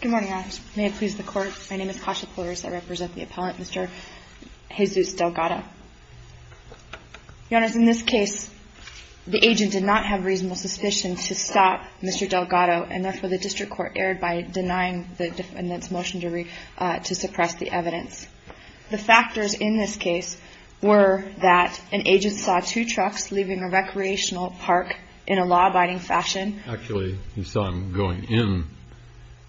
Good morning. May it please the court. My name is Kasha Poyers. I represent the appellant, Mr. Jesus Delgado. Your Honor, in this case, the agent did not have reasonable suspicion to stop Mr. Delgado, and therefore the district court erred by denying the defendant's motion to suppress the evidence. The factors in this case were that an agent saw two trucks leaving a recreational park in a law-abiding fashion. Actually, he saw them going in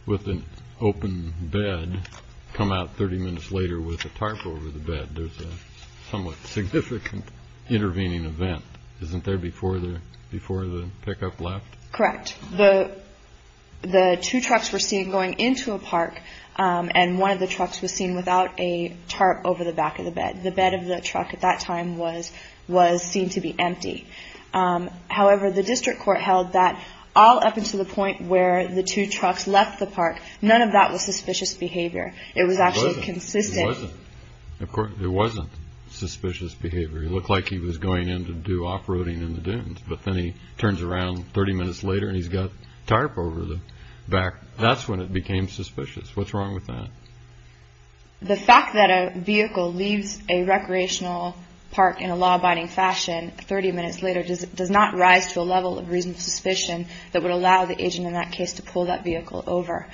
with an open bed, come out 30 minutes later with a tarp over the bed. There's a somewhat significant intervening event, isn't there, before the pickup left? Correct. The two trucks were seen going into a park, and one of the trucks was seen without a tarp over the back of the bed. The bed of the truck at that time was seen to be empty. However, the district court held that all up until the point where the two trucks left the park, none of that was suspicious behavior. It was actually consistent. It wasn't. Of course, it wasn't suspicious behavior. It looked like he was going in to do off-roading in the dunes, but then he turns around 30 minutes later and he's got a tarp over the back. That's when it became suspicious. What's wrong with that? The fact that a vehicle leaves a recreational park in a law-abiding fashion 30 minutes later does not rise to a level of reasonable suspicion that would allow the agent in that case to pull that vehicle over.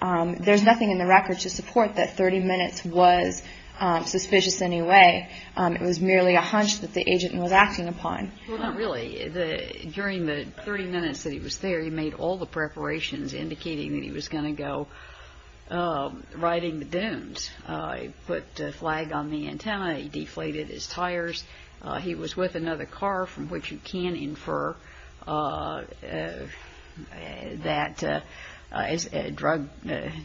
There's nothing in the record to support that 30 minutes was suspicious in any way. It was merely a hunch that the agent was acting upon. Well, not really. During the 30 minutes that he was there, he made all the preparations indicating that he was going to go riding the dunes. He put a flag on the antenna. He deflated his tires. He was with another car, from which you can infer that drug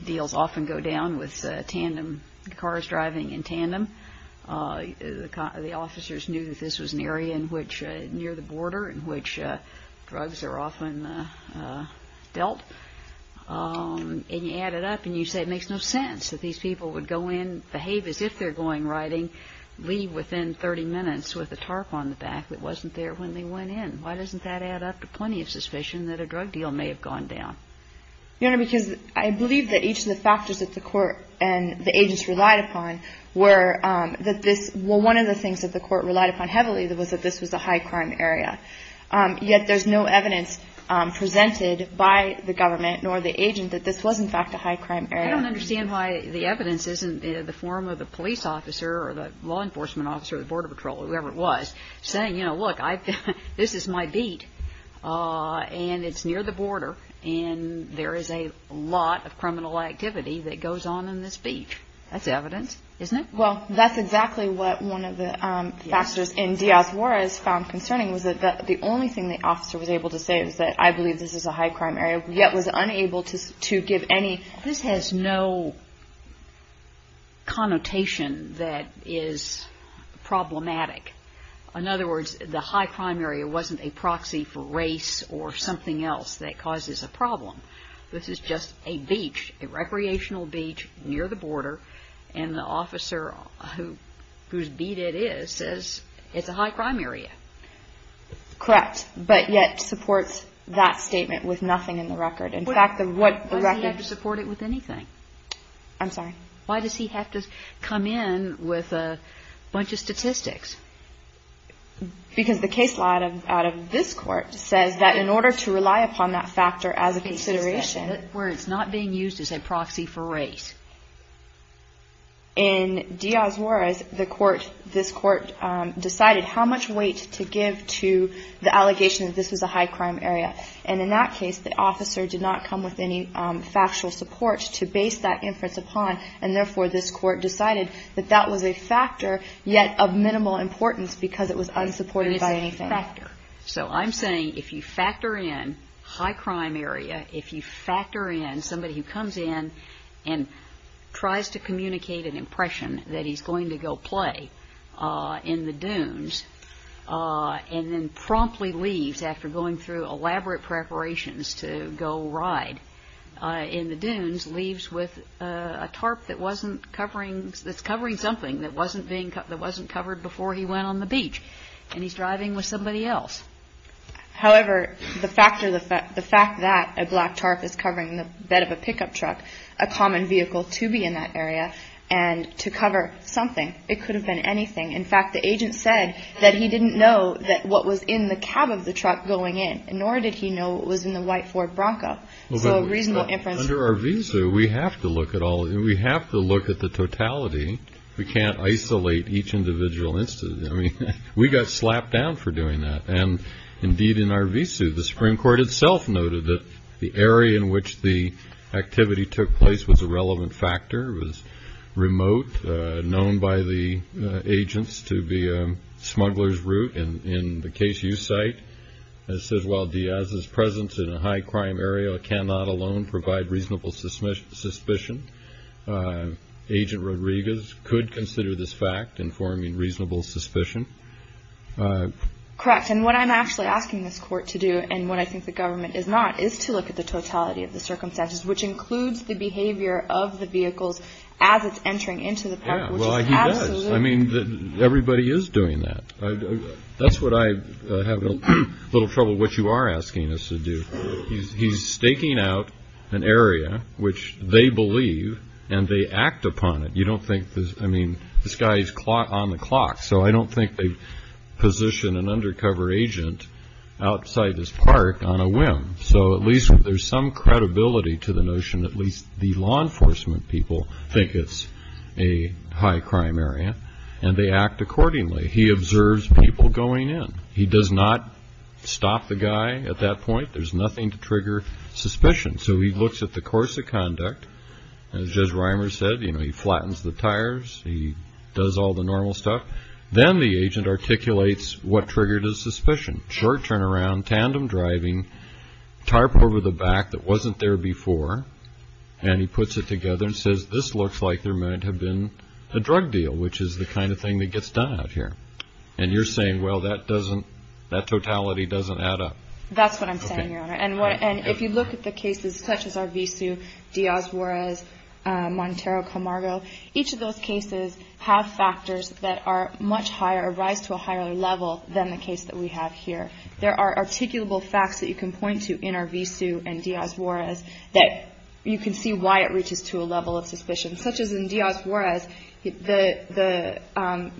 deals often go down with tandem cars driving in tandem. The officers knew that this was an area near the border in which drugs are often dealt. And you add it up and you say it makes no sense that these people would go in, behave as if they're going riding, leave within 30 minutes with a tarp on the back that wasn't there when they went in. Why doesn't that add up to plenty of suspicion that a drug deal may have gone down? Your Honor, because I believe that each of the factors that the court and the agents relied upon were that this – well, one of the things that the court relied upon heavily was that this was a high-crime area. Yet there's no evidence presented by the government nor the agent that this was, in fact, a high-crime area. I don't understand why the evidence isn't in the form of the police officer or the law enforcement officer or the border patrol or whoever it was saying, you know, look, this is my beat and it's near the border and there is a lot of criminal activity that goes on in this beach. That's evidence, isn't it? Well, that's exactly what one of the factors in Diaz-Juarez found concerning was that the only thing the officer was able to say was that I believe this is a high-crime area, yet was unable to give any – This has no connotation that is problematic. In other words, the high-crime area wasn't a proxy for race or something else that causes a problem. This is just a beach, a recreational beach near the border, and the officer whose beat it is says it's a high-crime area. Correct, but yet supports that statement with nothing in the record. In fact, the record – Why does he have to support it with anything? I'm sorry? Why does he have to come in with a bunch of statistics? Because the case law out of this court says that in order to rely upon that factor as a consideration – In other words, not being used as a proxy for race. In Diaz-Juarez, the court – this court decided how much weight to give to the allegation that this was a high-crime area, and in that case, the officer did not come with any factual support to base that inference upon, and therefore this court decided that that was a factor, yet of minimal importance because it was unsupported by anything. It is a factor. So I'm saying if you factor in high-crime area, if you factor in somebody who comes in and tries to communicate an impression that he's going to go play in the dunes and then promptly leaves after going through elaborate preparations to go ride in the dunes, leaves with a tarp that's covering something that wasn't covered before he went on the beach, and he's driving with somebody else. However, the fact that a black tarp is covering the bed of a pickup truck, a common vehicle to be in that area, and to cover something, it could have been anything. In fact, the agent said that he didn't know what was in the cab of the truck going in, nor did he know what was in the white Ford Bronco. So a reasonable inference. But under Arvizu, we have to look at all – we have to look at the totality. We can't isolate each individual instance. I mean, we got slapped down for doing that, and indeed in Arvizu, the Supreme Court itself noted that the area in which the activity took place was a relevant factor, was remote, known by the agents to be a smuggler's route. And in the case you cite, it says, while Diaz's presence in a high-crime area cannot alone provide reasonable suspicion, Agent Rodriguez could consider this fact informing reasonable suspicion. Correct. And what I'm actually asking this court to do, and what I think the government is not, is to look at the totality of the circumstances, which includes the behavior of the vehicles as it's entering into the park, which is absolutely – Yeah, well, he does. I mean, everybody is doing that. That's what I have a little trouble with what you are asking us to do. He's staking out an area which they believe and they act upon it. You don't think – I mean, this guy is on the clock. So I don't think they position an undercover agent outside his park on a whim. So at least there's some credibility to the notion, at least the law enforcement people think it's a high-crime area, and they act accordingly. He observes people going in. He does not stop the guy at that point. There's nothing to trigger suspicion. So he looks at the course of conduct. As Judge Reimer said, he flattens the tires. He does all the normal stuff. Then the agent articulates what triggered his suspicion. Short turnaround, tandem driving, tarp over the back that wasn't there before, and he puts it together and says, this looks like there might have been a drug deal, which is the kind of thing that gets done out here. And you're saying, well, that doesn't – that totality doesn't add up. That's what I'm saying, Your Honor. And if you look at the cases such as Arvizu, Diaz-Juarez, Montero-Camargo, each of those cases have factors that are much higher, rise to a higher level than the case that we have here. There are articulable facts that you can point to in Arvizu and Diaz-Juarez that you can see why it reaches to a level of suspicion. Such as in Diaz-Juarez, the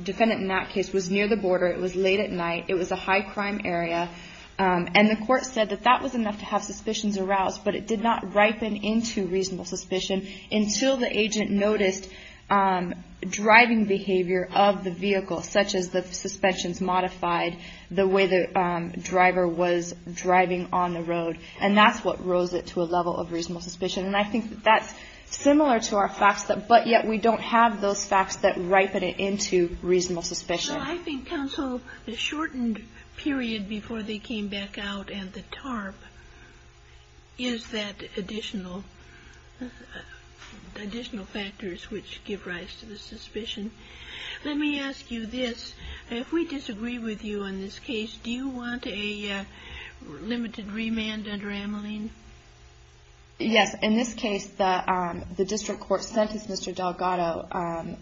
defendant in that case was near the border. It was late at night. It was a high-crime area. And the court said that that was enough to have suspicions aroused, but it did not ripen into reasonable suspicion until the agent noticed driving behavior of the vehicle, such as the suspensions modified the way the driver was driving on the road. And that's what rose it to a level of reasonable suspicion. And I think that's similar to our facts, but yet we don't have those facts that ripen it into reasonable suspicion. Well, I think, counsel, the shortened period before they came back out and the tarp is that additional factors which give rise to the suspicion. Let me ask you this. If we disagree with you on this case, do you want a limited remand under Ameline? Yes. In this case, the district court sentenced Mr. Delgado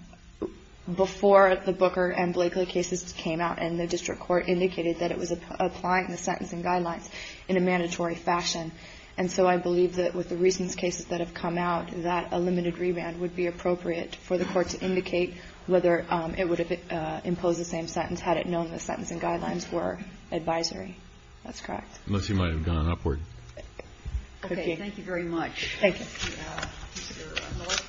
before the Booker and Blakely cases came out, and the district court indicated that it was applying the sentencing guidelines in a mandatory fashion. And so I believe that with the recent cases that have come out, that a limited remand would be appropriate for the court to indicate whether it would have imposed the same sentence had it known the sentencing guidelines were advisory. That's correct. Unless you might have gone upward. Okay. Thank you very much. Thank you.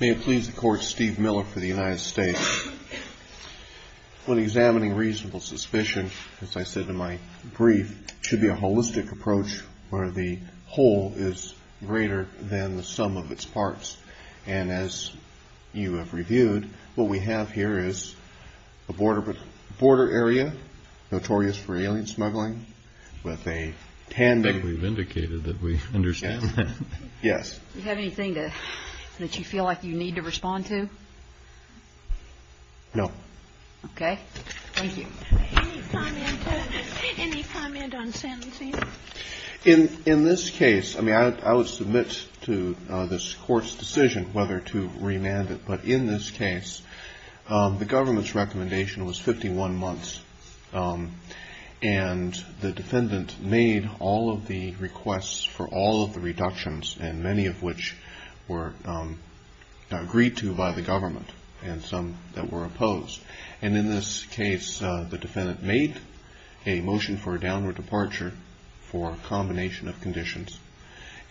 May it please the Court, Steve Miller for the United States. When examining reasonable suspicion, as I said in my brief, it should be a holistic approach where the whole is greater than the sum of its parts. And as you have reviewed, what we have here is a border area notorious for alien smuggling with a tandem. We've indicated that we understand. Yes. Do you have anything that you feel like you need to respond to? No. Okay. Thank you. Any comment on sentencing? In this case, I mean, I would submit to this court's decision whether to remand it. But in this case, the government's recommendation was 51 months. And the defendant made all of the requests for all of the reductions and many of which were agreed to by the government and some that were opposed. And in this case, the defendant made a motion for a downward departure for a combination of conditions.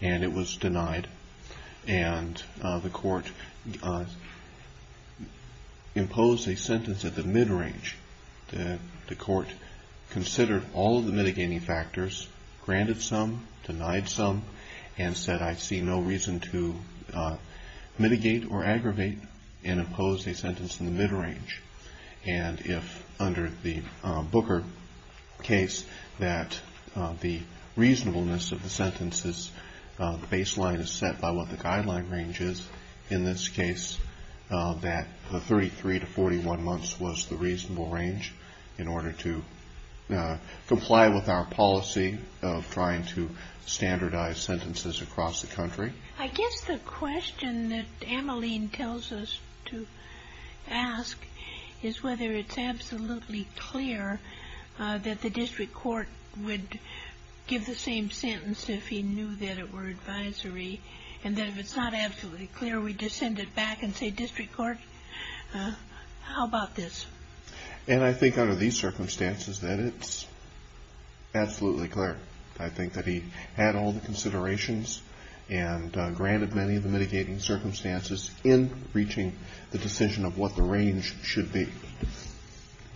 And it was denied. And the court imposed a sentence at the mid range. The court considered all of the mitigating factors, granted some, denied some, and said, I see no reason to mitigate or aggravate and impose a sentence in the mid range. And if under the Booker case that the reasonableness of the sentences, the baseline is set by what the guideline range is. In this case, that the 33 to 41 months was the reasonable range in order to comply with our policy of trying to standardize sentences across the country. I guess the question that Ameline tells us to ask is whether it's absolutely clear that the district court would give the same sentence if he knew that it were advisory and that if it's not absolutely clear, we just send it back and say, district court, how about this? And I think under these circumstances that it's absolutely clear. I think that he had all the considerations and granted many of the mitigating circumstances in reaching the decision of what the range should be.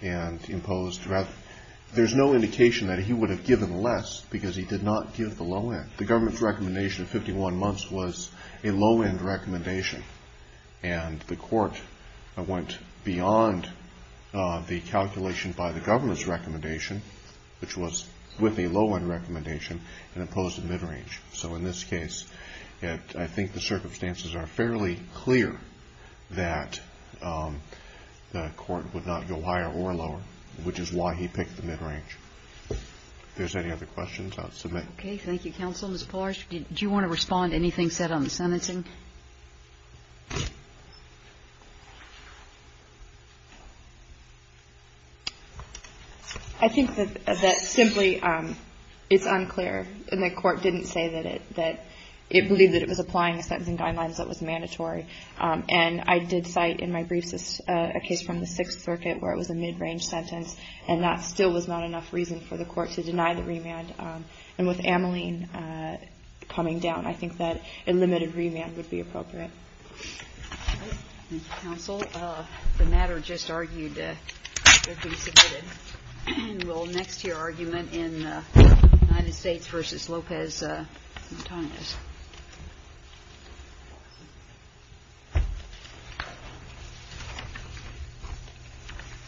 And imposed rather, there's no indication that he would have given less because he did not give the low end. The government's recommendation of 51 months was a low end recommendation. And the court went beyond the calculation by the government's recommendation, which was with a low end recommendation and imposed a mid range. So in this case, I think the circumstances are fairly clear that the court did not give the The district court would not go higher or lower, which is why he picked the mid range. If there's any other questions, I'll submit. Okay. Thank you, counsel. Ms. Polar, did you want to respond to anything said on the sentencing? I think that simply it's unclear. And the court didn't say that it, that it believed that it was applying the sentencing guidelines that was mandatory. And I did cite in my briefs, a case from the sixth circuit where it was a mid range sentence and that still was not enough reason for the court to deny the remand. And with Ameline coming down, I think that a limited remand would be appropriate. Thank you, counsel. The matter just argued to be submitted. Well, next, your argument in the United States versus Lopez.